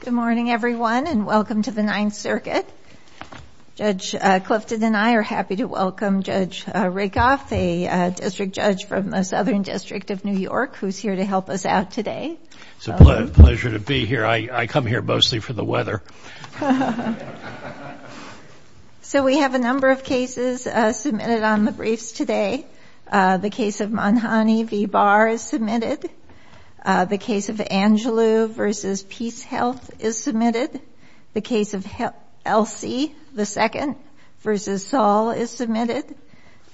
Good morning, everyone, and welcome to the Ninth Circuit. Judge Clifton and I are happy to welcome Judge Rakoff, a district judge from the Southern District of New York, who's here to help us out today. It's a pleasure to be here. I come here mostly for the weather. So we have a number of cases submitted on the briefs today. The case of Monhoney v. Angelou v. Peace Health is submitted. The case of Elsie II v. Saul is submitted.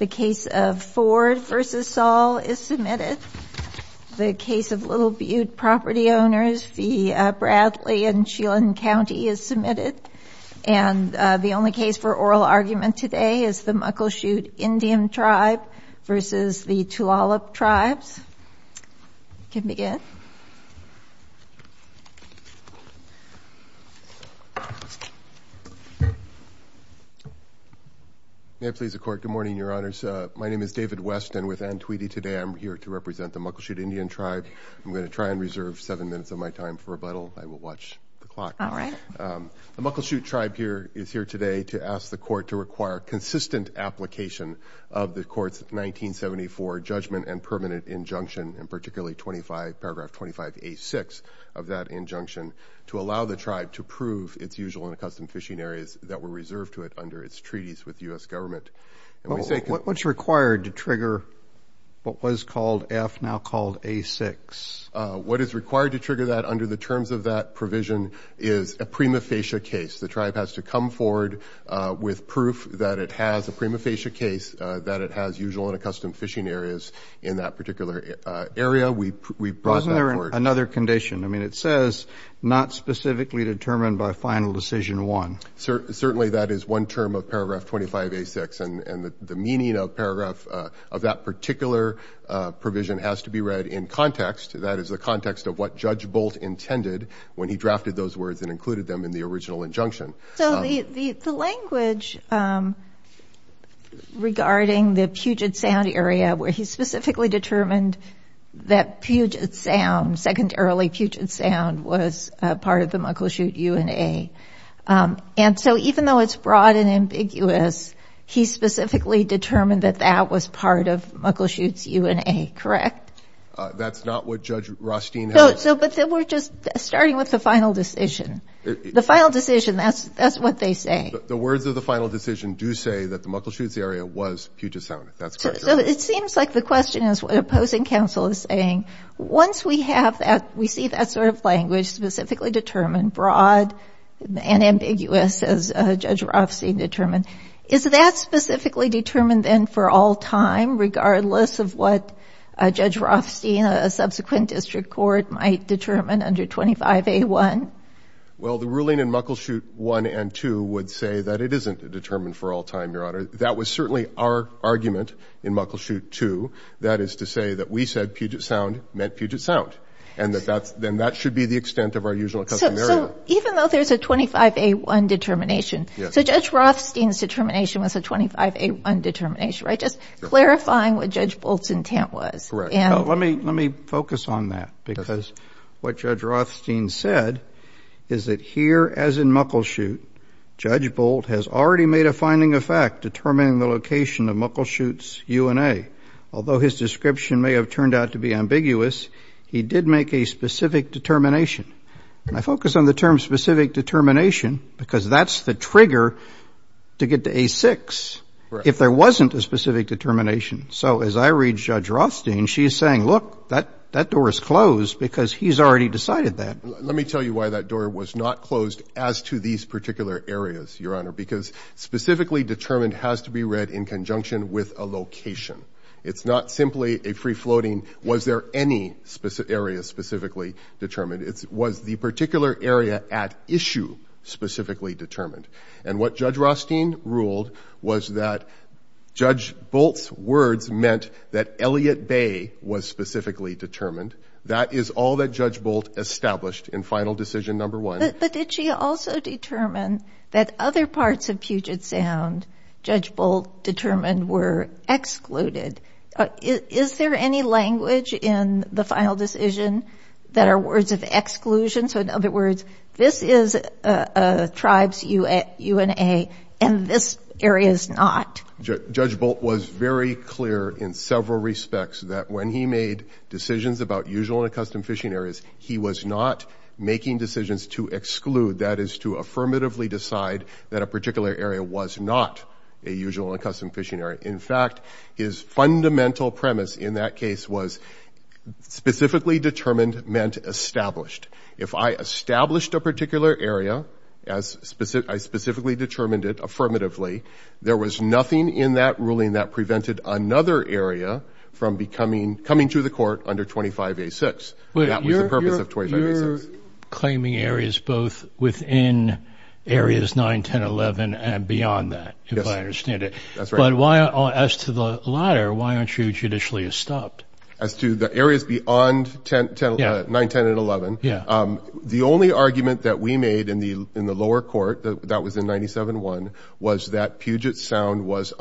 The case of Ford v. Saul is submitted. The case of Little Butte property owners v. Bradley and Sheelan County is submitted. And the only case for oral argument today is the Muckleshoot Indian Tribe v. the Tulalip Tribes. You can begin. May it please the Court. Good morning, Your Honors. My name is David West, and with Ann Tweedy today I'm here to represent the Muckleshoot Indian Tribe. I'm going to try and reserve seven minutes of my time for rebuttal. I will watch the clock. All right. The Muckleshoot Tribe is here today to ask the Court to require consistent application of the Court's 1974 Judgment and Permanent Injunction, and particularly paragraph 25A6 of that injunction, to allow the tribe to prove its usual and accustomed fishing areas that were reserved to it under its treaties with the U.S. government. What's required to trigger what was called F, now called A6? What is required to trigger that under the terms of that provision is a prima facie case. The tribe has to come forward with proof that it has a prima facie case, that it has usual and accustomed fishing areas in that particular area. We brought that forward. Wasn't there another condition? I mean, it says, not specifically determined by Final Decision 1. Certainly that is one term of paragraph 25A6. And the meaning of paragraph, of that particular provision, has to be read in context. That is the context of what Judge Bolt intended when he drafted those words and included them in the original injunction. So the language regarding the Puget Sound area, where he specifically determined that Puget Sound, secondarily Puget Sound, was part of the Muckleshoot UNA. And so even though it's broad and ambiguous, he specifically determined that that was part of the Muckleshoot UNA, correct? That's not what Judge Rothstein has... But then we're just starting with the final decision. The final decision, that's what they say. The words of the final decision do say that the Muckleshoot area was Puget Sound. That's correct. So it seems like the question is, what opposing counsel is saying, once we have that, we see that sort of language specifically determined, broad and ambiguous, as Judge Rothstein determined, is that specifically determined then for all time, regardless of what Judge Rothstein, a subsequent district court, might determine under 25A1? Well, the ruling in Muckleshoot 1 and 2 would say that it isn't determined for all time, Your Honor. That was certainly our argument in Muckleshoot 2, that is to say that we said Puget Sound meant Puget Sound. And then that should be the extent of our usual custom area. Even though there's a 25A1 determination, so Judge Rothstein's determination was a 25A1 determination, right? Just clarifying what Judge Bolt's intent was. Let me focus on that, because what Judge Rothstein said is that here, as in Muckleshoot, Judge Bolt has already made a finding of fact determining the location of Muckleshoot's UNA. Although his description may have turned out to be ambiguous, he did make a specific determination. And I focus on the term specific determination because that's the trigger to get to A6 if there wasn't a specific determination. So as I read Judge Rothstein, she's saying, look, that door is closed because he's already decided that. Let me tell you why that door was not closed as to these particular areas, Your Honor, because specifically determined has to be read in conjunction with a location. It's not simply a free-floating, was there any specific area specifically determined? It was the particular area at issue specifically determined. And what Judge Rothstein ruled was that Judge Bolt's words meant that Elliott Bay was specifically determined. That is all that Judge Bolt established in final decision number one. But did she also determine that other parts of Puget Sound, Judge Bolt determined were excluded? Is there any language in the final decision that are words of exclusion? So in other words, this is a tribe's UNA and this area is not? Judge Bolt was very clear in several respects that when he made decisions about usual and accustomed fishing areas, he was not making decisions to exclude, that is to affirmatively decide that a particular area was not a usual and accustomed fishing area. In fact, his fundamental premise in that case was specifically determined meant established. If I established a particular area as I specifically determined it affirmatively, there was nothing in that ruling that prevented another area from becoming coming to the court under 25A6. That was the purpose of 25A6. You're claiming areas both within areas 9, 10, 11 and beyond that, if I understand it. That's right. But as to the latter, why aren't you judicially stopped? As to the areas beyond 9, 10 and 11, the only argument that we made in the lower court that was in 97-1 was that Puget Sound was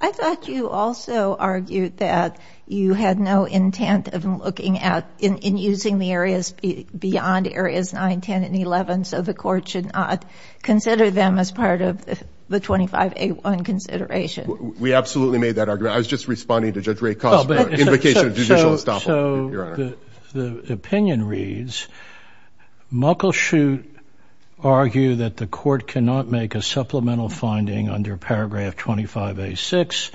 I thought you also argued that you had no intent of looking at, in using the areas beyond areas 9, 10 and 11, so the court should not consider them as part of the 25A1 consideration. We absolutely made that argument. I was just responding to Judge Ray Koss' invocation of judicial estoppel, Your Honor. So the opinion reads, Muckleshoot argue that the court cannot make a supplemental finding under paragraph 25A6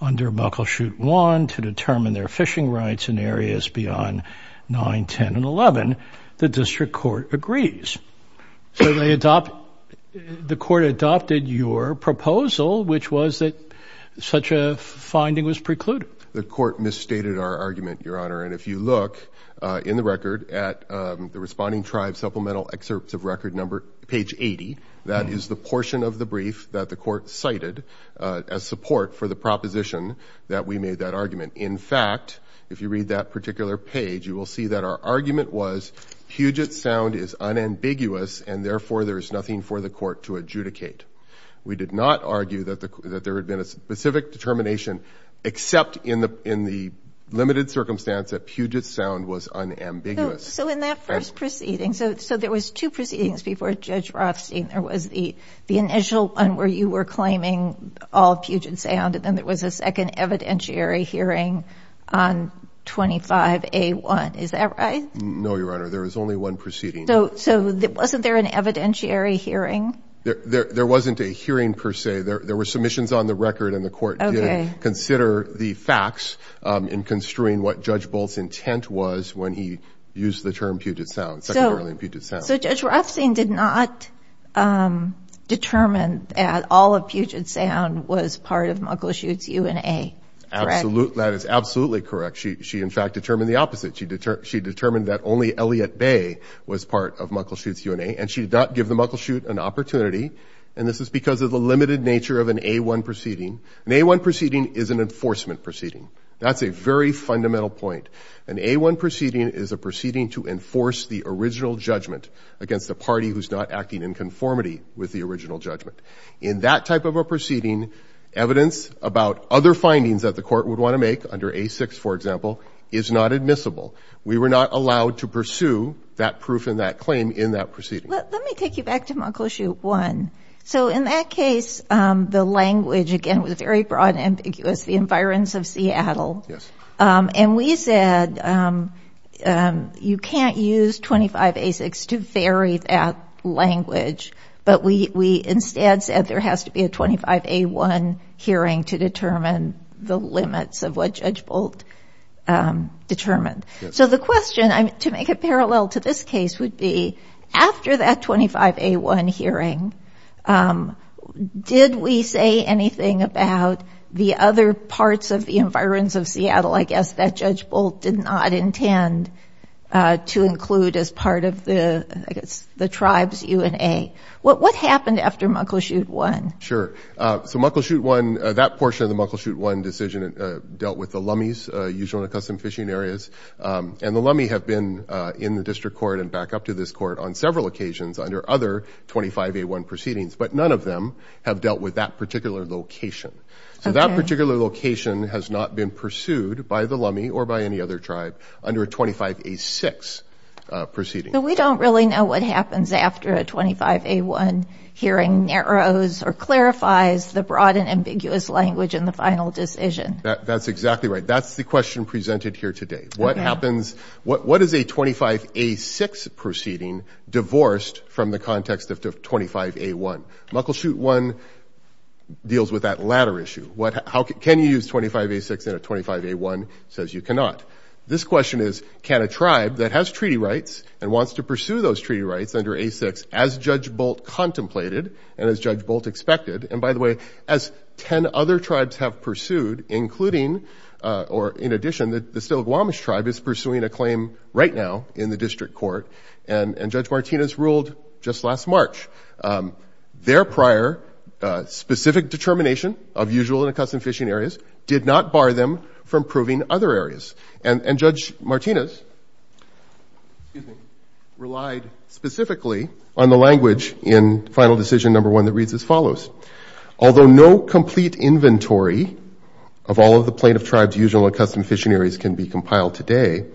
under Muckleshoot 1 to determine their fishing rights in areas beyond 9, 10 and 11. The district court agrees. So they adopt, the court adopted your proposal, which was that such a finding was precluded. The court misstated our argument, Your Honor. And if you look in the record at the Responding Tribes Supplemental Excerpts of Record number, page 80, that is the portion of the brief that the court cited as support for the proposition that we made that argument. In fact, if you read that particular page, you will see that our argument was Puget Sound is unambiguous, and therefore there is nothing for the court to adjudicate. We did not argue that there had been a specific determination, except in the limited circumstance that Puget Sound was unambiguous. So in that first proceeding, so there was two proceedings before Judge Rothstein. There was the initial one where you were claiming all of Puget Sound, and then there was a second evidentiary hearing on 25A1. Is that right? No, Your Honor. There was only one proceeding. So wasn't there an evidentiary hearing? There wasn't a hearing, per se. There were submissions on the record, and the court did consider the facts in construing what Judge Bolt's intent was when he used the term Puget Sound, secondarily in Puget Sound. So Judge Rothstein did not determine that all of Puget Sound was part of Muckleshoot's UNA, correct? That is absolutely correct. She, in fact, determined the opposite. She determined that only Elliott Bay was part of Muckleshoot's UNA, and she did not give the Muckleshoot an opportunity, and this is because of the limited nature of an A1 proceeding. An A1 proceeding is an enforcement proceeding. That's a very fundamental point. An A1 proceeding is a proceeding to enforce the original judgment against the party who's not acting in conformity with the original judgment. In that type of a proceeding, evidence about other findings that the court would want to make, under A6, for example, is not admissible. We were not allowed to pursue that proof and that claim in that proceeding. Let me take you back to Muckleshoot 1. So in that case, the language, again, was very broad and ambiguous, the environs of Seattle, and we said you can't use 25A6 to vary that language, but we instead said there has to be a 25A1 hearing to determine the limits of what Judge Bolt determined. So the question, to make it parallel to this case, would be after that 25A1 hearing, did we say anything about the other parts of the environs of Seattle, I guess, that Judge Bolt did not intend to include as part of the, I guess, the tribe's UNA? What happened after Muckleshoot 1? Sure. So Muckleshoot 1, that portion of the Muckleshoot 1 decision dealt with the Lummies, usually in the custom fishing areas, and the Lummie have been in the district court and back up to this court on several occasions under other 25A1 proceedings, but none of them have dealt with that particular location. So that particular location has not been pursued by the Lummie or by any other tribe under a 25A6 proceeding. But we don't really know what happens after a 25A1 hearing narrows or clarifies the broad and ambiguous language in the final decision. That's exactly right. That's the question presented here today. What happens, what is a 25A6 proceeding divorced from the context of 25A1? Muckleshoot 1 deals with that latter issue. How can you use 25A6 in a 25A1, says you cannot. This question is, can a tribe that has treaty rights and wants to pursue those treaty rights under A6, as Judge Bolt contemplated and as Judge Bolt expected, and by the way, as 10 other tribes have pursued, including, or in addition, the Stiligwamish tribe is pursuing a claim right now in the district court, and Judge Martinez ruled just last March. Their prior specific determination of usual and accustomed fishing areas did not bar them from proving other areas. And Judge Martinez relied specifically on the language in final decision number one that reads as follows. Although no complete inventory of all of the plaintiff tribes usual and custom fishing areas can be compiled today,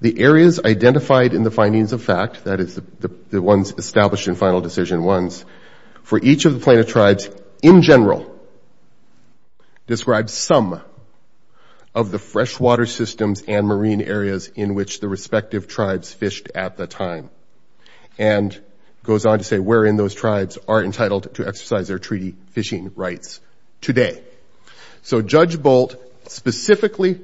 the areas identified in the findings of fact, that is the ones established in final decision ones, for each of the plaintiff tribes in general describe some of the freshwater systems and marine areas in which the respective tribes are entitled to exercise their treaty fishing rights today. So Judge Bolt specifically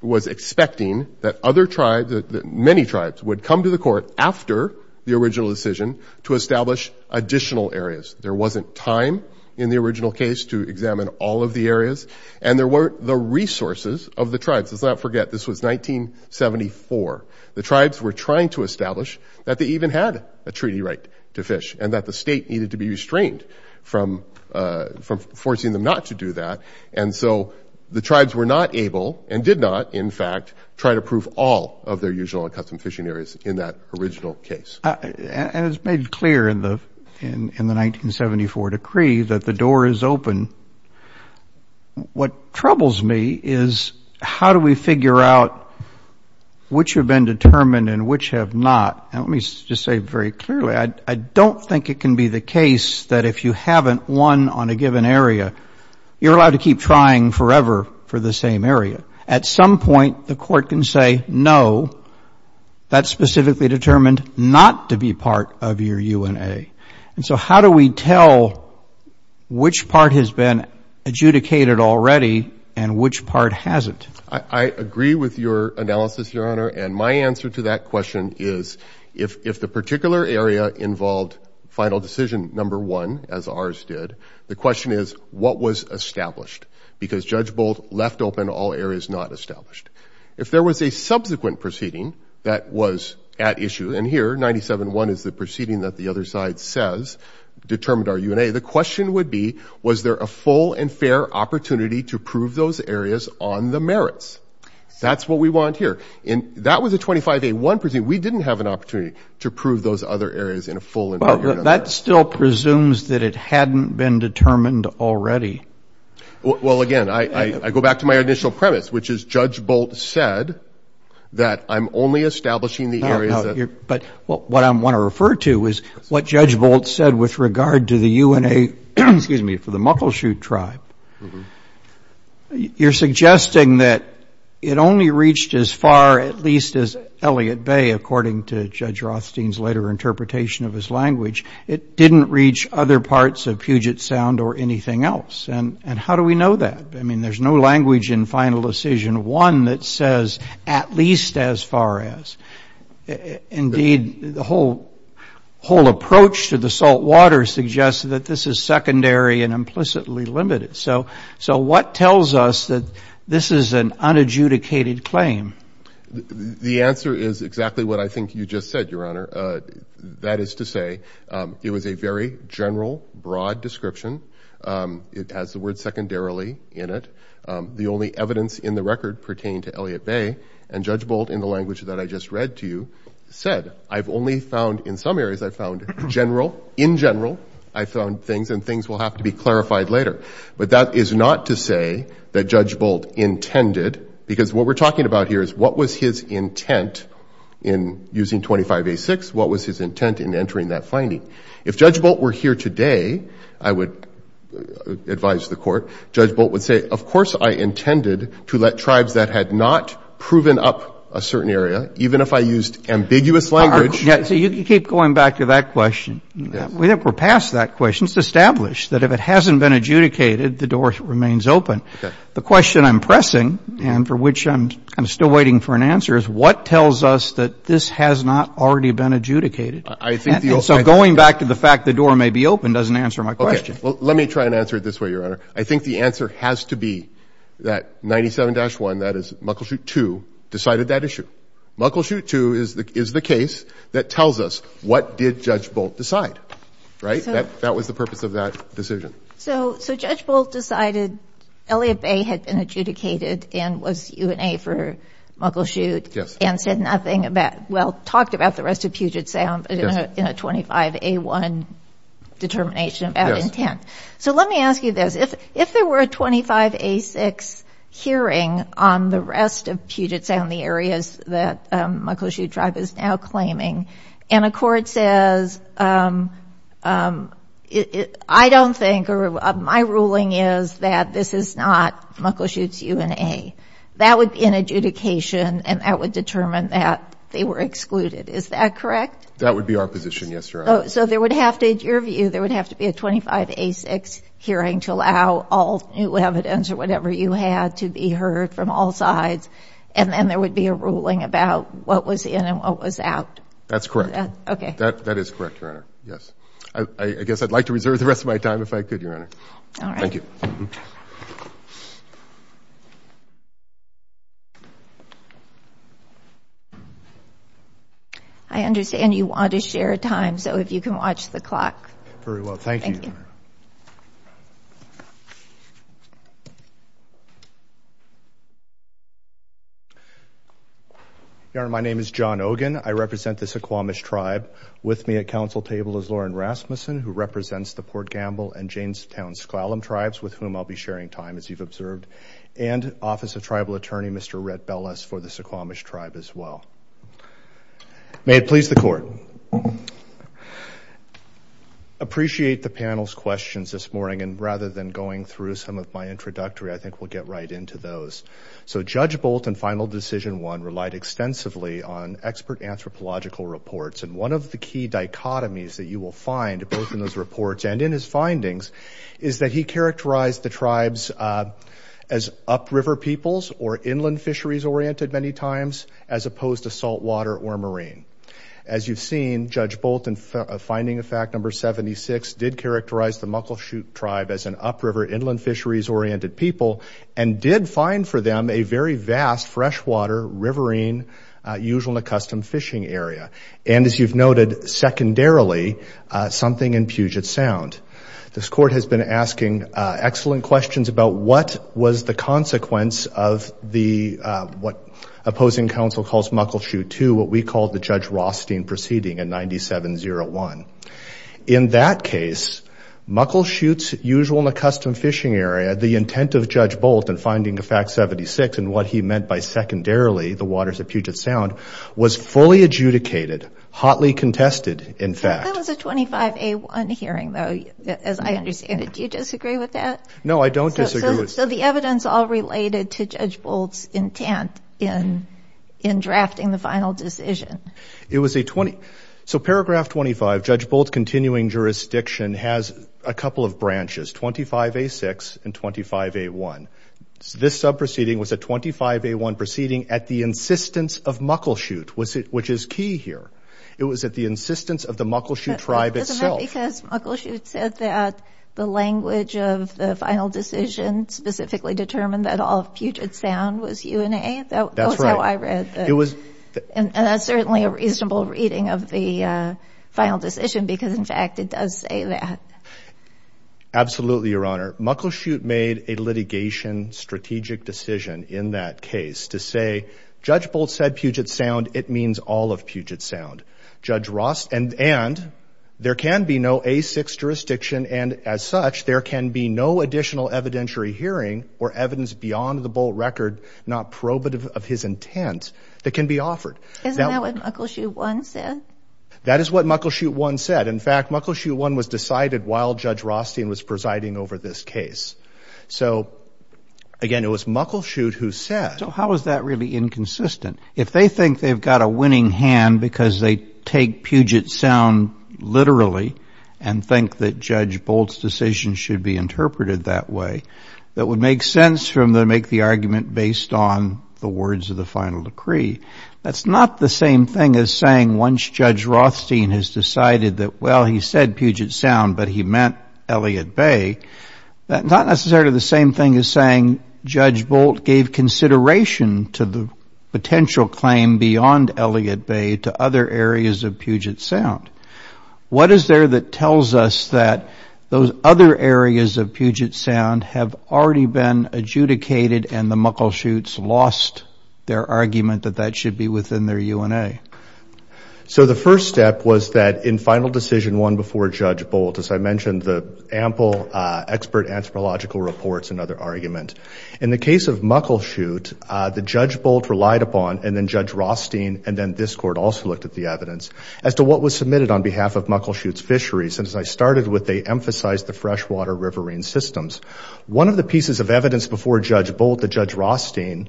was expecting that other tribes, many tribes, would come to the court after the original decision to establish additional areas. There wasn't time in the original case to examine all of the areas and there weren't the resources of the tribes. Let's not forget this was 1974. The tribes were needed to be restrained from forcing them not to do that. And so the tribes were not able, and did not in fact, try to prove all of their usual and custom fishing areas in that original case. And it's made clear in the 1974 decree that the door is open. What troubles me is how do we figure out which have been determined and which have not? Let me just say very clearly, I don't think it can be the case that if you haven't won on a given area, you're allowed to keep trying forever for the same area. At some point, the court can say, no, that's specifically determined not to be part of your UNA. And so how do we tell which part has been adjudicated already and which part hasn't? I agree with your analysis, Your Honor. And my answer to that question is, if the particular area involved final decision number one, as ours did, the question is, what was established? Because Judge Bolt left open all areas not established. If there was a subsequent proceeding that was at issue, and here 97-1 is the proceeding that the other side says determined our UNA, the question would be, was there a full and fair opportunity to prove those areas on the merits? That's what we want here. That was a 25-1 proceeding. We didn't have an opportunity to prove those other areas in a full and fair way. That still presumes that it hadn't been determined already. Well, again, I go back to my initial premise, which is Judge Bolt said that I'm only establishing the areas. But what I want to refer to is what Judge Bolt said with suggesting that it only reached as far at least as Elliott Bay, according to Judge Rothstein's later interpretation of his language. It didn't reach other parts of Puget Sound or anything else. And how do we know that? I mean, there's no language in final decision one that says at least as far as. Indeed, the whole approach to the salt water suggests that this is secondary and implicitly limited. So what tells us that this is an unadjudicated claim? The answer is exactly what I think you just said, Your Honor. That is to say, it was a very general, broad description. It has the word secondarily in it. The only evidence in the record pertained to Elliott Bay. And Judge Bolt, in the language that I just read to you, said, I've only found in some areas, I found general. In general, I found things and things will have to be clarified later. But that is not to say that Judge Bolt intended, because what we're talking about here is what was his intent in using 25A6? What was his intent in entering that finding? If Judge Bolt were here today, I would advise the Court, Judge Bolt would say, of course, I intended to let tribes that had not proven up a certain area, even if I used ambiguous language. You keep going back to that question. We're past that question. It's established that if it hasn't been adjudicated, the door remains open. The question I'm pressing and for which I'm still waiting for an answer is what tells us that this has not already been adjudicated? So going back to the fact the door may be open doesn't answer my question. Let me try and answer it this way, Your Honor. I think the answer has to be that 97-1, that is, Muckleshoot 2, decided that issue. Muckleshoot 2 is the case that tells us what did Judge Bolt decide, right? That was the purpose of that decision. So Judge Bolt decided Elliott Bay had been adjudicated and was UNA for Muckleshoot and said nothing about, well, talked about the rest of Puget Sound in a 25A1 determination about intent. So let me ask you this. If there were a 25A6 hearing on the rest of Puget Sound, the areas that Muckleshoot Tribe is now claiming, and a court says, I don't think or my ruling is that this is not Muckleshoot's UNA, that would be an adjudication and that would determine that they were excluded. Is that correct? That would be our position, yes, Your Honor. So there would have to, in your view, there would have to be a 25A6 hearing to all new evidence or whatever you had to be heard from all sides and then there would be a ruling about what was in and what was out. That's correct. Okay. That is correct, Your Honor, yes. I guess I'd like to reserve the rest of my time if I could, Your Honor. All right. Thank you. I understand you want to share time, so if you can watch the clock. Very well. Thank you. Your Honor, my name is John Ogin. I represent the Suquamish Tribe. With me at council table is Lauren Rasmussen, who represents the Port Gamble and Janestown-Sklallam Tribes, with whom I'll be sharing time, as you've observed, and Office of Tribal Attorney, Mr. Rhett Belles, for the Suquamish Tribe as well. May it please the Court. Appreciate the panel's questions this morning, and rather than going through some of my introductory, I think we'll get right into those. So Judge Bolton, Final Decision 1, relied extensively on expert anthropological reports, and one of the key dichotomies that you will find both in those reports and in his findings is that he characterized the tribes as upriver peoples or inland fisheries-oriented many times as opposed to saltwater or marine. As you've seen, Judge Bolton, Finding of Fact No. 76, did characterize the Muckleshoot Tribe as an upriver, inland fisheries-oriented people, and did find for them a very vast, freshwater, riverine, usual and accustomed fishing area, and as you've noted, secondarily, something in Puget Sound. This Court has been asking excellent questions about what was the consequence of what opposing counsel calls Muckleshoot II, what we call the Judge Rothstein proceeding in 9701. In that case, Muckleshoot's usual and accustomed fishing area, the intent of Judge Bolton, Finding of Fact No. 76, and what he meant by secondarily, the waters of Puget Sound, was fully adjudicated, hotly contested, in fact. That was a 25A1 hearing, though, as I understand it. Do you disagree with that? No, I don't disagree. So the evidence all related to Judge Bolton's intent in drafting the final decision. So paragraph 25, Judge Bolton's continuing jurisdiction has a couple of branches, 25A6 and 25A1. This sub-proceeding was a 25A1 proceeding at the insistence of Muckleshoot, which is key here. It was at the insistence of the Muckleshoot Tribe itself. Isn't that because Muckleshoot said that the language of the final decision specifically determined that all of Puget Sound was UNA? That's how I read it. And that's certainly a reasonable reading of the final decision because, in fact, it does say that. Absolutely, Your Honor. Muckleshoot made a litigation strategic decision in that case to say, Judge Bolton said Puget Sound, it means all of Puget Sound. Judge Rothstein, and there can be no A6 jurisdiction and, as such, there can be no additional evidentiary hearing or evidence beyond the Bolt record, not probative of his intent, that can be offered. Isn't that what Muckleshoot 1 said? That is what Muckleshoot 1 said. In fact, Muckleshoot 1 was decided while Judge Rothstein was presiding over this case. So, again, it was Muckleshoot who said. So how is that really inconsistent? If they think they've got a winning hand because they take Puget Sound literally and think that Judge Bolt's decision should be interpreted that way, that would make sense for them to make the argument based on the words of the final decree. That's not the same thing as saying once Judge Rothstein has decided that, well, he said Puget Sound, but he meant Elliott Bay. That's not necessarily the same thing as saying Judge Bolt gave consideration to the potential claim beyond Elliott Bay to other areas of Puget Sound. What is there that tells us that those other areas of Puget Sound have already been adjudicated and the Muckleshoots lost their argument that that should be within their UNA? So the first step was that in Final Decision 1 before Judge Bolt, as I mentioned, the expert anthropological reports and other argument. In the case of Muckleshoot, the Judge Bolt relied upon, and then Judge Rothstein, and then this Court also looked at the evidence, as to what was submitted on behalf of Muckleshoot's fisheries. And as I started with, they emphasized the freshwater riverine systems. One of the pieces of evidence before Judge Bolt that Judge Rothstein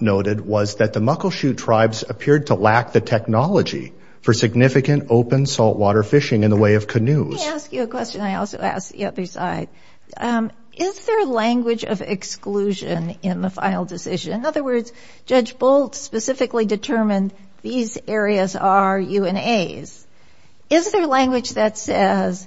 noted was that the Muckleshoot tribes appeared to lack the technology for significant open saltwater fishing in the way of canoes. Let me ask you a question I also asked the other side. Is there language of exclusion in the Final Decision? In other words, Judge Bolt specifically determined these areas are UNAs. Is there language that says,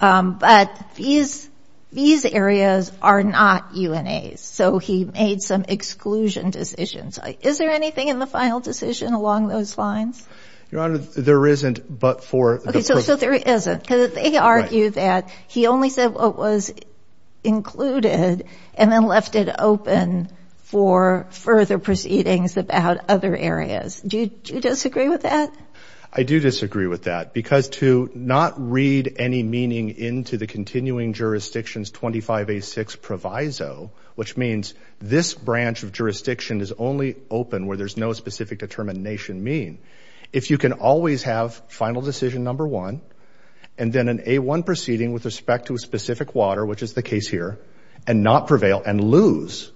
but these areas are not UNAs? So he made some exclusion decisions. Is there anything in the Final Decision along those lines? Your Honor, there isn't, but for the they argue that he only said what was included and then left it open for further proceedings about other areas. Do you disagree with that? I do disagree with that, because to not read any meaning into the continuing jurisdiction's 25A6 proviso, which means this branch of jurisdiction is only open where there's no specific determination mean, if you can always have decision number one, and then an A1 proceeding with respect to a specific water, which is the case here, and not prevail and lose,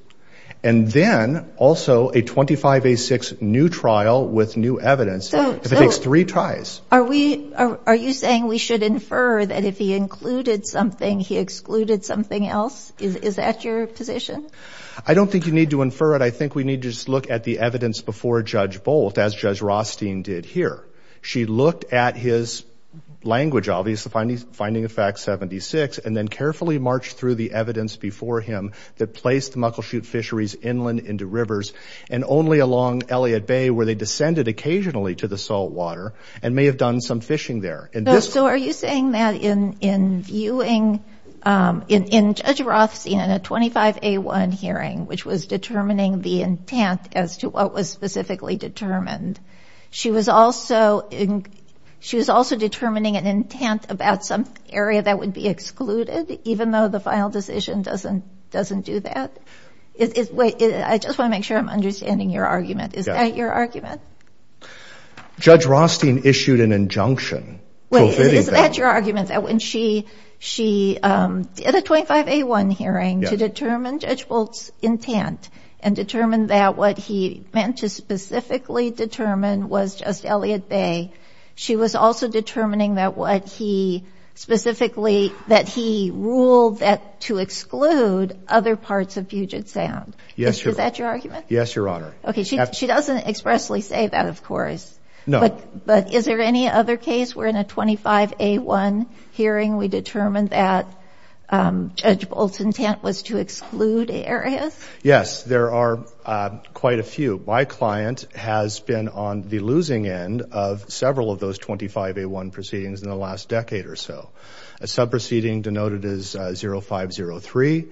and then also a 25A6 new trial with new evidence, if it takes three tries. Are you saying we should infer that if he included something, he excluded something else? Is that your position? I don't think you need to infer it. I think we need to look at the evidence before Judge Bolt, as Judge Rothstein did here. She looked at his language, obviously, Finding of Fact 76, and then carefully marched through the evidence before him that placed muckleshoot fisheries inland into rivers, and only along Elliott Bay, where they descended occasionally to the salt water, and may have done some fishing there. So are you saying that in in viewing, in Judge Rothstein, in a 25A1 hearing, which was determining the intent as to what was specifically determined, she was also determining an intent about some area that would be excluded, even though the final decision doesn't do that? I just want to make sure I'm understanding your argument. Is that your argument? Judge Rothstein issued an injunction. Is that your argument, that when she did a 25A1 hearing to determine Judge Bolt's intent, and determined that what he meant to specifically determine was just Elliott Bay, she was also determining that what he specifically, that he ruled that to exclude other parts of Puget Sound? Is that your argument? Yes, Your Honor. Okay, she doesn't expressly say that, of course. No. But is there any other case where, in a 25A1 hearing, we determined that Judge Bolt's intent was to exclude areas? Yes, there are quite a few. My client has been on the losing end of several of those 25A1 proceedings in the last decade or so. A sub-proceeding denoted as 0503.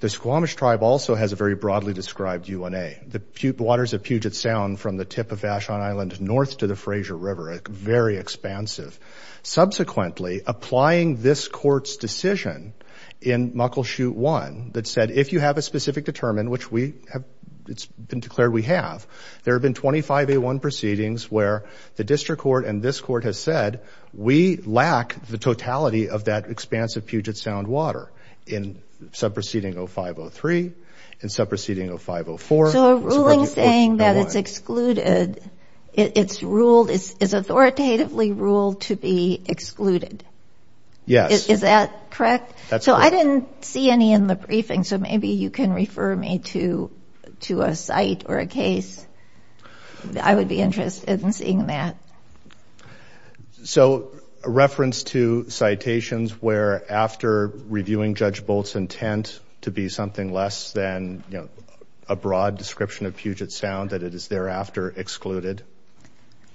The Squamish Tribe also has a very broadly described UNA. The waters of Puget Sound, from the tip of Vashon Island north to the Fraser River, are very expansive. Subsequently, applying this court's decision in Muckleshoot 1, that said, if you have a specific determine, which we have, it's been declared we have, there have been 25A1 proceedings where the district court and this court have said, we lack the totality of that expanse of Puget Sound water. In sub-proceeding 0503, in sub-proceeding 0504. So a ruling saying that it's excluded, it's ruled, is authoritatively ruled to be excluded? Yes. Is that correct? So I didn't see any in the briefing, so maybe you can refer me to a site or a case. I would be interested in seeing that. So, a reference to citations where, after reviewing Judge Bolt's intent to be something less than, you know, a broad description of Puget Sound, that it is thereafter excluded?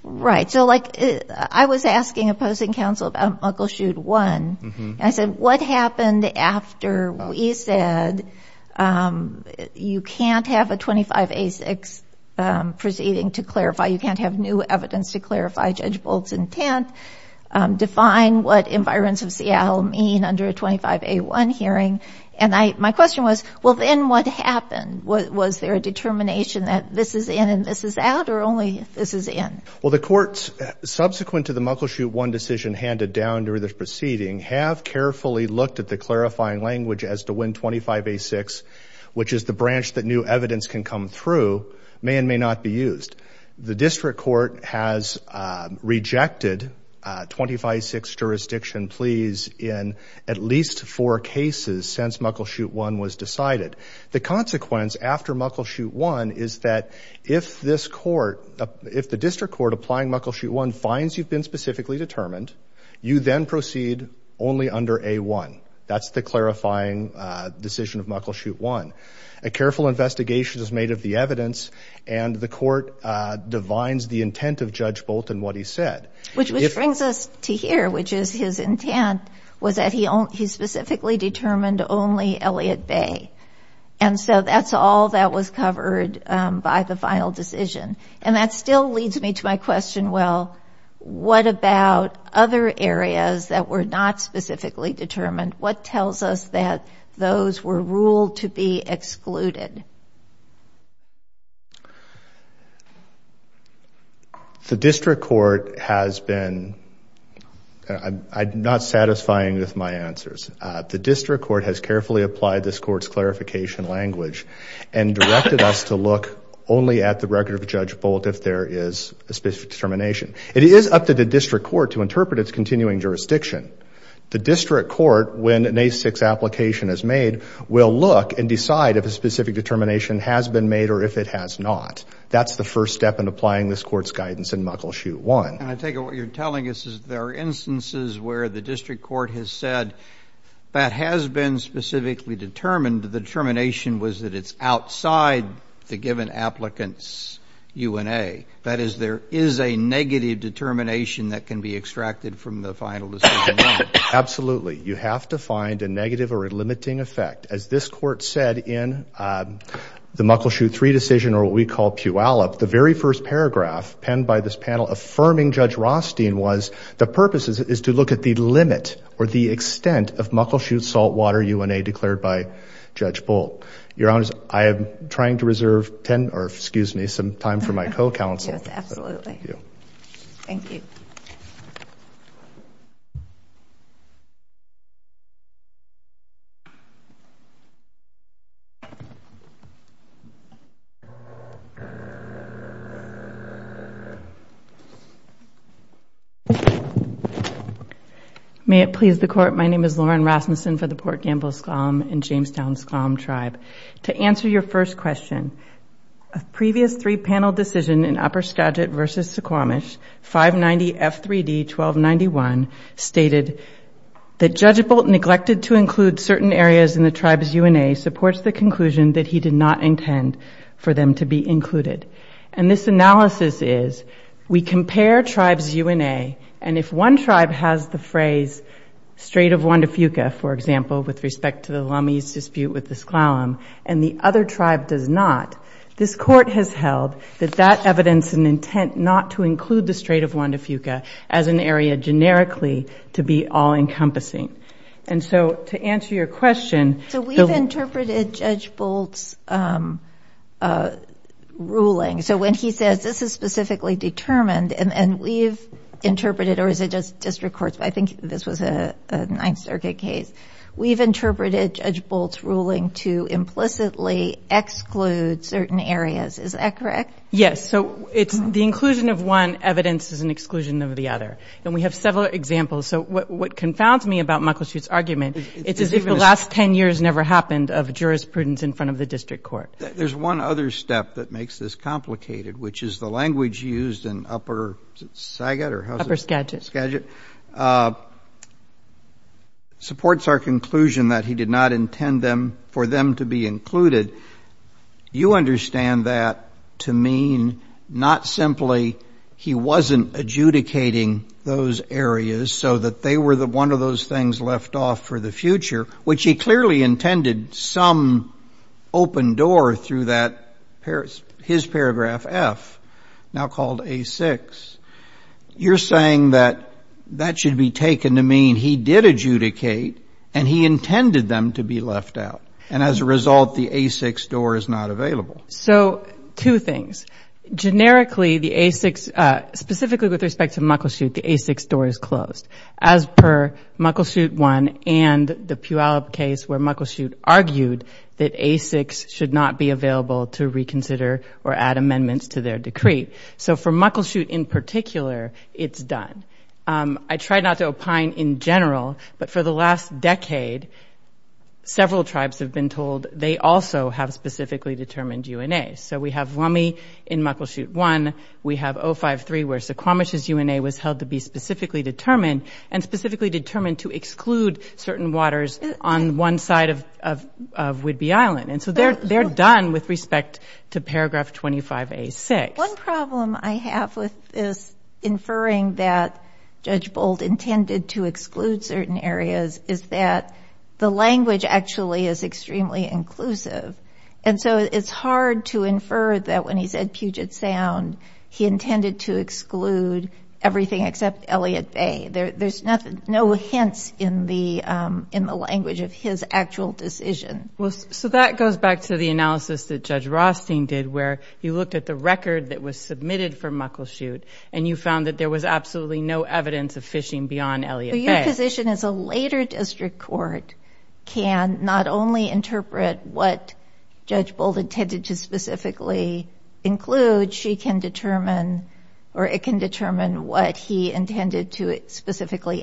Right. So, like, I was asking opposing counsel about Muckleshoot 1, and I said, what happened after we said you can't have a 25A6 proceeding to clarify, you can't have new evidence to clarify Judge Bolt's intent, define what environments of Seattle mean under a 25A1 hearing? And my question was, well, then what happened? Was there a determination that this is in and this is out, or only this is in? Well, the courts, subsequent to the Muckleshoot 1 decision handed down during the proceeding, have carefully looked at the clarifying language as to when 25A6, which is the branch that new evidence can come through, may and may not be used. The district court has rejected 25A6 jurisdiction pleas in at least four cases since Muckleshoot 1 was decided. The consequence after Muckleshoot 1 is that if this court, if the district court applying Muckleshoot 1 finds you've been specifically determined, you then proceed only under A1. That's the clarifying decision of Muckleshoot 1. A careful investigation is made of the evidence, and the court divines the intent of Judge Bolt and what he said. Which brings us to here, which is his intent was that he specifically determined only Elliot Bay. And so that's all that was covered by the final decision. And that still leads me to my question, well, what about other areas that were not specifically determined? What tells us that those were ruled to be excluded? The district court has been, I'm not satisfying with my answers. The district court has carefully applied this court's clarification language and directed us to look only at the record of Judge Bolt if there is a specific determination. It is up to the district court to interpret its continuing jurisdiction. The district court, when an A6 application is made, will look and has been made or if it has not. That's the first step in applying this court's guidance in Muckleshoot 1. And I take it what you're telling us is there are instances where the district court has said that has been specifically determined, the determination was that it's outside the given applicants' UNA. That is, there is a negative determination that can be extracted from the final decision. Absolutely. You have to find a negative or a limiting effect. As this court said in the Muckleshoot 3 decision or what we call Puyallup, the very first paragraph penned by this panel affirming Judge Rothstein was the purpose is to look at the limit or the extent of Muckleshoot saltwater UNA declared by Judge Bolt. Your Honor, I am trying to reserve 10 or excuse me, time for my co-counsel. Yes, absolutely. Thank you. May it please the court, my name is Lauren Rasmussen for the Port Gamble-Sklom and Jamestown-Sklom Tribe. To answer your first question, a previous three-panel decision in Upper Skagit v. Suquamish, 590 F3D 1291, stated that Judge Bolt neglected to include certain areas in the tribe's UNA supports the conclusion that he did not intend for them to be included. And this analysis is we compare tribes' UNA and if one tribe has the phrase straight of Juan de Fuca, for example, with respect to the Lummi's dispute with the Sklom and the other tribe does not, this court has held that that evidence and intent not to include the straight of Juan de Fuca as an area generically to be all-encompassing. And so to answer your question. So we've interpreted Judge Bolt's ruling. So when he says this is specifically determined and we've interpreted or is it just courts. I think this was a Ninth Circuit case. We've interpreted Judge Bolt's ruling to implicitly exclude certain areas. Is that correct? Yes. So it's the inclusion of one evidence is an exclusion of the other. And we have several examples. So what confounds me about Michael's argument, it's as if the last 10 years never happened of jurisprudence in front of the district court. There's one other step that makes this complicated, which is the language used in Upper Skagit or Upper Skagit. Supports our conclusion that he did not intend them for them to be included. You understand that to mean not simply he wasn't adjudicating those areas so that they were the one of those things left off for the future, which he clearly intended some open door through that his paragraph F now called A6. You're saying that that should be taken to mean he did adjudicate and he intended them to be left out. And as a result, the A6 door is not available. So two things. Generically, the A6 specifically with respect to Muckleshoot, the A6 door is closed as per Muckleshoot one and the Puyallup case where Muckleshoot argued that A6 should not be available to reconsider or add amendments to their decree. So for Muckleshoot in particular, it's done. I try not to opine in general, but for the last decade, several tribes have been told they also have specifically determined UNA. So we have Lummi in Muckleshoot one, we have 053 where Suquamish's UNA was held to be specifically determined and specifically determined to exclude certain waters on one side of Whidbey Island. And so they're done with respect to paragraph 25A6. One problem I have with this inferring that Judge Boldt intended to exclude certain areas is that the language actually is extremely inclusive. And so it's hard to infer that when he said Puget Sound, he intended to exclude everything except Elliott Bay. There's no hints in the language of his actual decision. Well, so that goes back to the analysis that Judge Rothstein did where you looked at the record that was submitted for Muckleshoot and you found that there was absolutely no evidence of fishing beyond Elliott Bay. Your position is a later district court can not only interpret what Judge Boldt intended to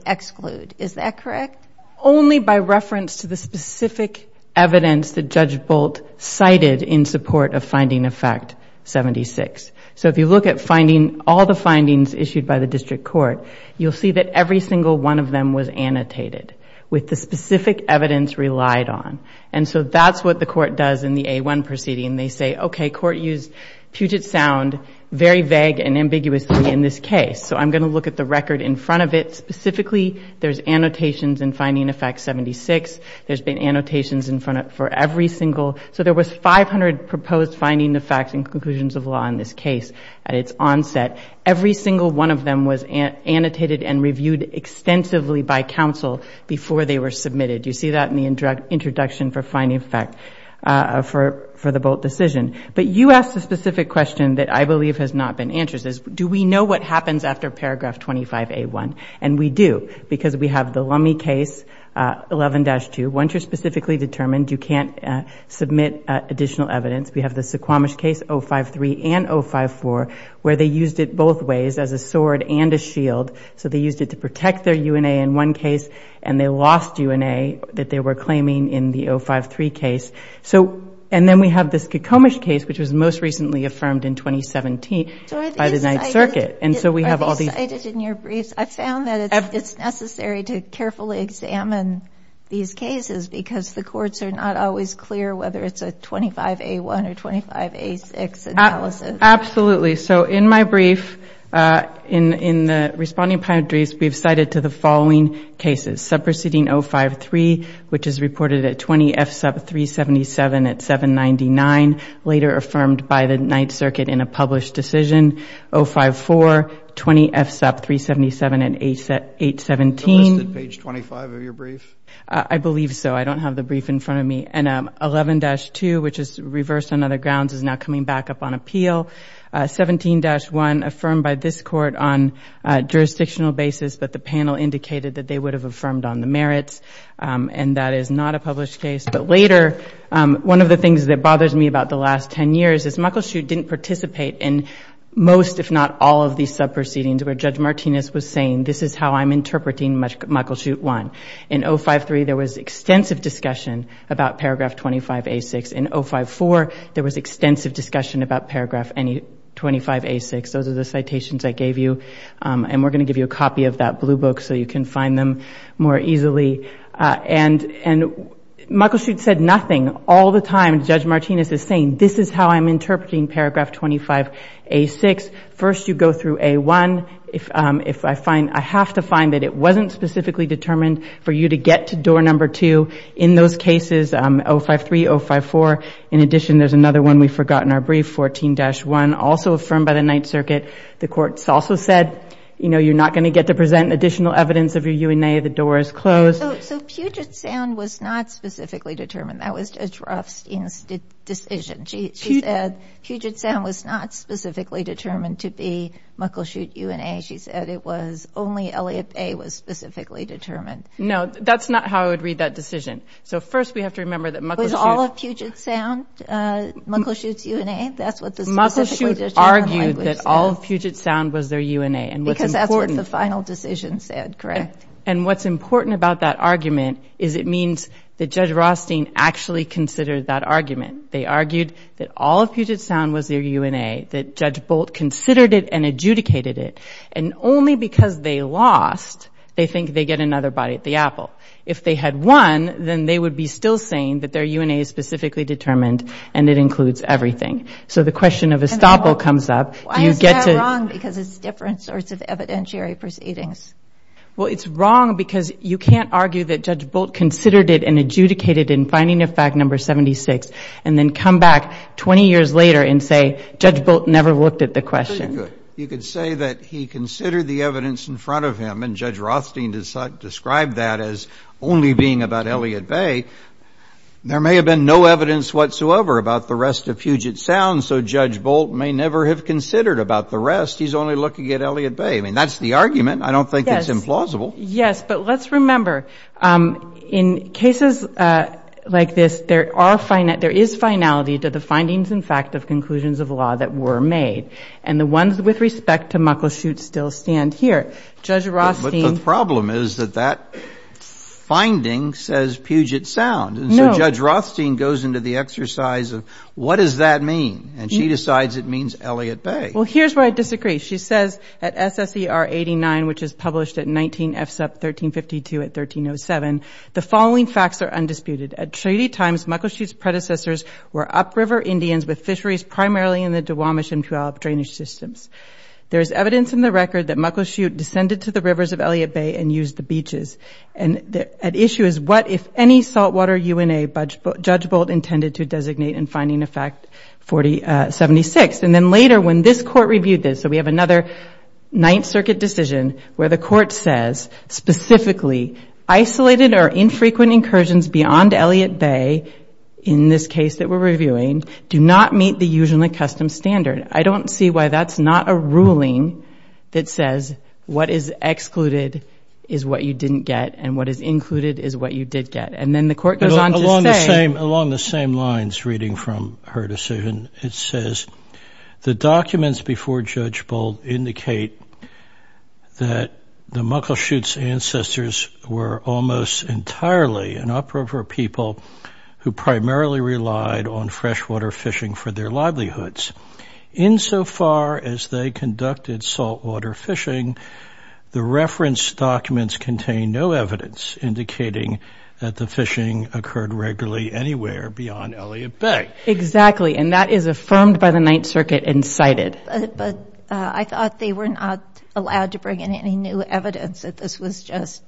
exclude, is that correct? Only by reference to the specific evidence that Judge Boldt cited in support of finding effect 76. So if you look at finding all the findings issued by the district court, you'll see that every single one of them was annotated with the specific evidence relied on. And so that's what the court does in the A1 proceeding. They say, okay, court used Puget Sound very vague and ambiguously in this case. So I'm going to look at the record in front of it. Specifically, there's annotations in finding effect 76. There's been annotations in front for every single. So there was 500 proposed finding the facts and conclusions of law in this case at its onset. Every single one of them was annotated and reviewed extensively by counsel before they were submitted. You see that in the introduction for finding effect for the Boldt decision. But you asked a specific question that I believe has not been answered. Do we know what happens after paragraph 25A1? And we do, because we have the Lummi case 11-2. Once you're specifically determined, you can't submit additional evidence. We have the Suquamish case 053 and 054, where they used it both ways as a sword and a shield. So they used it to protect their UNA in one case, and they lost UNA that they were claiming in the 053 case. So, and then we have this Suquamish case, which was most recently affirmed in 2017 by the Ninth Circuit. And so we have all these- I found that it's necessary to carefully examine these cases because the courts are not always clear whether it's a 25A1 or 25A6 analysis. Absolutely. So in my brief, in the responding primary briefs, we've cited to the following cases. Subproceeding 053, which is reported at 20 F sub 377 at 799, later affirmed by the Ninth Circuit in a published decision. 054, 20 F sub 377 at 817. Is it listed page 25 of your brief? I believe so. I don't have the brief in front of me. And 11-2, which is reversed on other grounds, is now coming back up on appeal. 17-1 affirmed by this court on a jurisdictional basis, but the panel indicated that they would have affirmed on the merits, and that is not a published case. But later, one of the things that bothers me about the last 10 years is Michael Schutt didn't participate in most, if not all of these subproceedings where Judge Martinez was saying, this is how I'm interpreting Michael Schutt one. In 053, there was extensive discussion about paragraph 25A6. In 054, there was extensive discussion about paragraph 25A6. Those are the citations I gave you, and we're going to give you a copy of that blue book so you can find them more easily. And Michael Schutt said nothing all the time. Judge Martinez is saying, this is how I'm interpreting paragraph 25A6. First, you go through A1. I have to find that it wasn't specifically determined for you to get to door number two. In those cases, 053, 054, in addition, there's another one we forgot in our brief, 14-1, also affirmed by the Ninth Circuit. The court also said, you know, you're not going to get to present additional evidence of your UNA. The door is closed. So Puget Sound was not specifically determined. That was Judge Rothstein's decision. She said Puget Sound was not specifically determined to be Michael Schutt UNA. She said it was specifically determined. No, that's not how I would read that decision. So first, we have to remember that Michael Schutt... Was all of Puget Sound Michael Schutt's UNA? That's what the specifically determined language said. Michael Schutt argued that all of Puget Sound was their UNA, and what's important... Because that's what the final decision said, correct? And what's important about that argument is it means that Judge Rothstein actually considered that argument. They argued that all of Puget Sound was their UNA, that Judge Bolt considered it and adjudicated it, and only because they lost, they think they get another bite at the apple. If they had won, then they would be still saying that their UNA is specifically determined, and it includes everything. So the question of estoppel comes up. Why is that wrong? Because it's different sorts of evidentiary proceedings. Well, it's wrong because you can't argue that Judge Bolt considered it and adjudicated it in finding of fact number 76, and then come back 20 years later and say Judge Bolt never looked at the question. You could say that he considered the evidence in front of him, and Judge Rothstein described that as only being about Elliott Bay. There may have been no evidence whatsoever about the rest of Puget Sound, so Judge Bolt may never have considered about the rest. He's only looking at Elliott Bay. I mean, that's the argument. I don't think it's implausible. Yes, but let's remember, in cases like this, there are finite... There is finality to the findings in fact of conclusions of law that were made, and the ones with respect to Muckleshoot still stand here. Judge Rothstein... But the problem is that that finding says Puget Sound, and so Judge Rothstein goes into the exercise of what does that mean, and she decides it means Elliott Bay. Well, here's where I disagree. She says at SSER 89, which is published at 19 FSUP 1352 at 1307, the following facts are undisputed. At treaty times, Muckleshoot's predecessors were upriver Indians with fisheries primarily in the Duwamish and Puyallup drainage systems. There is evidence in the record that Muckleshoot descended to the rivers of Elliott Bay and used the beaches, and the issue is what, if any, saltwater UNA Judge Bolt intended to designate in finding effect 4076, and then later when this court reviewed this, so we have another Ninth Circuit decision where the court says specifically isolated or infrequent incursions beyond Elliott Bay, in this case that we're reviewing, do not meet the usually custom standard. I don't see why that's not a ruling that says what is excluded is what you didn't get, and what is included is what you did get, and then the court goes on to say... Along the same lines, reading from her decision, it says the documents before Judge Bolt indicate that the Muckleshoot's ancestors were almost entirely an uprover people who primarily relied on freshwater fishing for their livelihoods. Insofar as they conducted saltwater fishing, the reference documents contain no evidence indicating that the fishing occurred regularly anywhere beyond Elliott Bay. Exactly, and that is affirmed by the Ninth Circuit and cited. But I thought they were not allowed to bring in any new evidence that this was just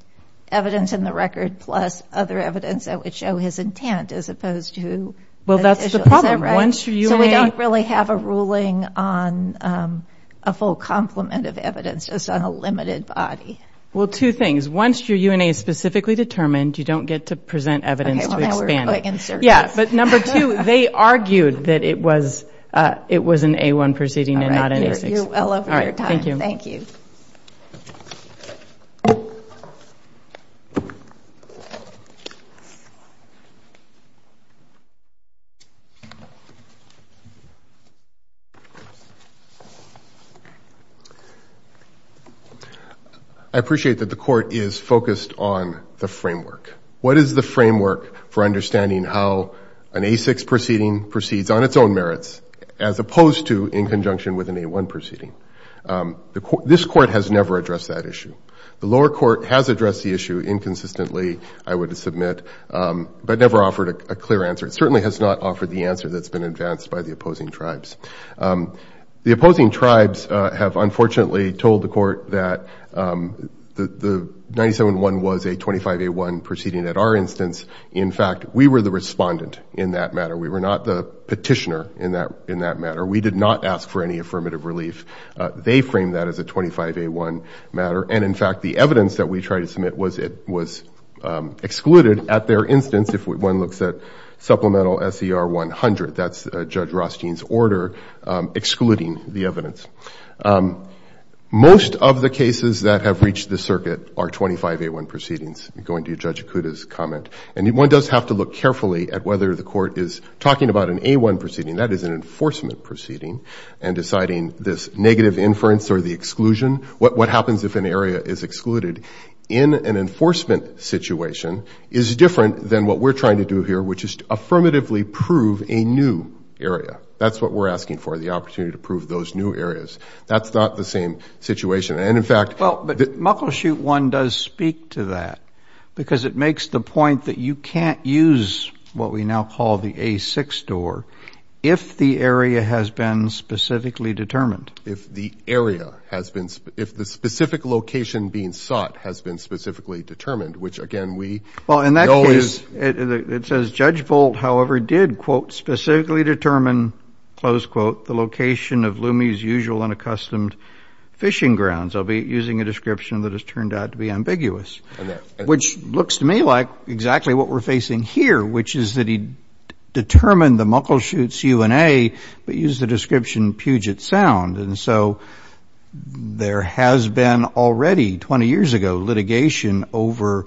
evidence in the record plus other evidence that would show his intent as opposed to... Well, that's the problem. So we don't really have a ruling on a full complement of evidence, just on a limited body. Well, two things. Once your UNA is specifically determined, you don't get to present evidence to expand it. Yeah, but number two, they argued that it was an A-1 proceeding and not an A-6. All right, you're well over your time. Thank you. I appreciate that the court is focused on the framework. What is the framework for understanding how an A-6 proceeding proceeds on its own merits as opposed to in conjunction with an A-1 proceeding? This court has never addressed that issue. The lower court has addressed the issue inconsistently, I would submit, but never offered a clear answer. It certainly has not offered the answer that's been advanced by the opposing tribes. The opposing tribes have unfortunately told the court that the 97-1 was a 25-A-1 proceeding at our instance. In fact, we were the respondent in that matter. We were not the petitioner in that matter. We did not ask for any affirmative relief. They framed that as a 25-A-1 matter. And in fact, the evidence that we tried to submit was excluded at their instance. If one looks at Supplemental SER 100, that's Judge Rothstein's evidence. Most of the cases that have reached the circuit are 25-A-1 proceedings, going to Judge Ikuda's comment. And one does have to look carefully at whether the court is talking about an A-1 proceeding, that is an enforcement proceeding, and deciding this negative inference or the exclusion. What happens if an area is excluded in an enforcement situation is different than what we're trying to do here, which is to affirmatively prove a new area. That's what we're asking for, the opportunity to prove those new areas. That's not the same situation. And in fact— Well, but Muckleshoot 1 does speak to that, because it makes the point that you can't use what we now call the A-6 door if the area has been specifically determined. If the area has been—if the specific location being sought has been specifically determined, which again, we know is— Well, in that case, it says Judge Bolt, however, did, quote, specifically determine, close quote, the location of Lume's usual unaccustomed fishing grounds. I'll be using a description that has turned out to be ambiguous, which looks to me like exactly what we're facing here, which is that he determined the Muckleshoot's UNA, but used the description Puget Sound. And so there has been already, 20 years ago, litigation over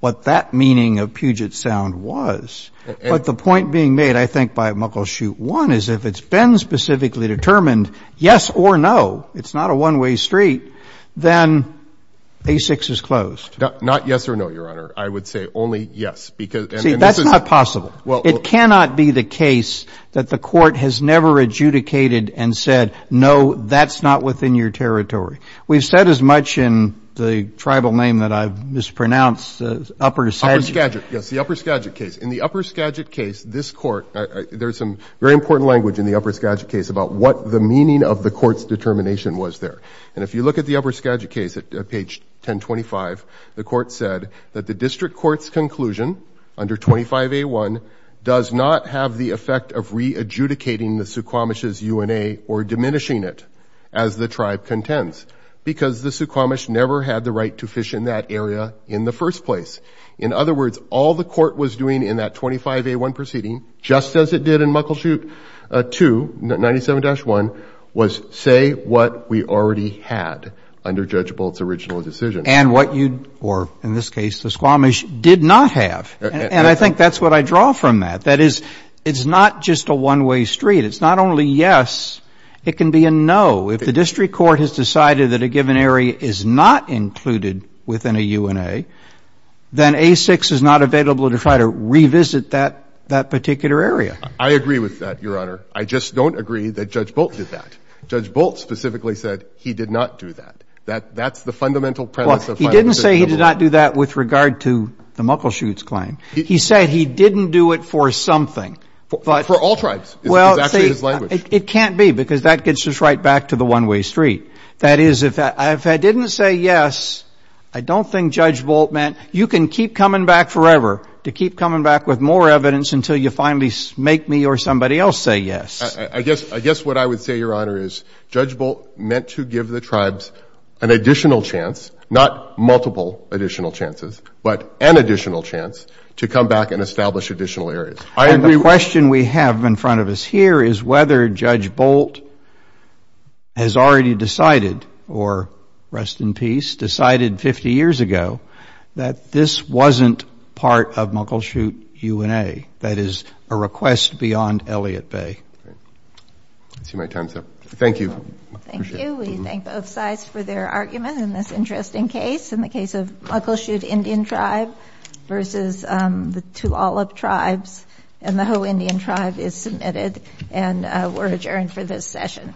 what that meaning of Puget Sound was. But the point being made, I think, by Muckleshoot 1 is if it's been specifically determined, yes or no, it's not a one-way street, then A-6 is closed. Not yes or no, Your Honor. I would say only yes, because— See, that's not possible. It cannot be the case that the court has never adjudicated and said, no, that's not within your territory. We've said as much in the tribal name that I've mispronounced, Upper Skagit. Upper Skagit, yes, the Upper Skagit case. In the Upper Skagit case, this court—there's some very important language in the Upper Skagit case about what the meaning of the court's determination was there. And if you look at the Upper Skagit case at page 1025, the court said that the district court's conclusion under 25A1 does not have the effect of re-adjudicating the Suquamish's UNA or diminishing it as the tribe contends, because the Suquamish never had the right to fish in that area in the first place. In other words, all the court was doing in that 25A1 proceeding, just as it did in Muckleshoot 2, 97-1, was say what we already had under Judge Bolt's original decision. And what you, or in this case, the Suquamish did not have. And I think that's what I draw from that. That is, it's not just a one-way street. It's not only yes, it can be a no. If the district court has decided that a given area is not included within a UNA, then A6 is not available to try to revisit that particular area. I agree with that, Your Honor. I just don't agree that Judge Bolt did that. Judge Bolt specifically said he did not do that. That's the fundamental premise of final decision. He didn't say he did not do that with regard to the Muckleshoot's claim. He said he didn't do it for something. For all tribes. It's actually his language. It can't be, because that gets us right back to the one-way street. That is, if I didn't say yes, I don't think Judge Bolt meant, you can keep coming back forever, to keep coming back with more evidence until you finally make me or somebody else say yes. I guess what I would say, Your Honor, is Judge Bolt meant to give the tribes an additional chance, not multiple additional chances, but an additional chance to come back and establish additional areas. And the question we have in front of us here is whether Judge Bolt has already decided, or rest in peace, decided 50 years ago that this wasn't part of Muckleshoot UNA. That is, a request beyond Elliott Bay. I see my time's up. Thank you. Thank you. We thank both sides for their argument in this interesting case. In the case of Muckleshoot Indian Tribe versus the Tulalip Tribes and the Ho Indian Tribe is submitted, and we're adjourned for this session.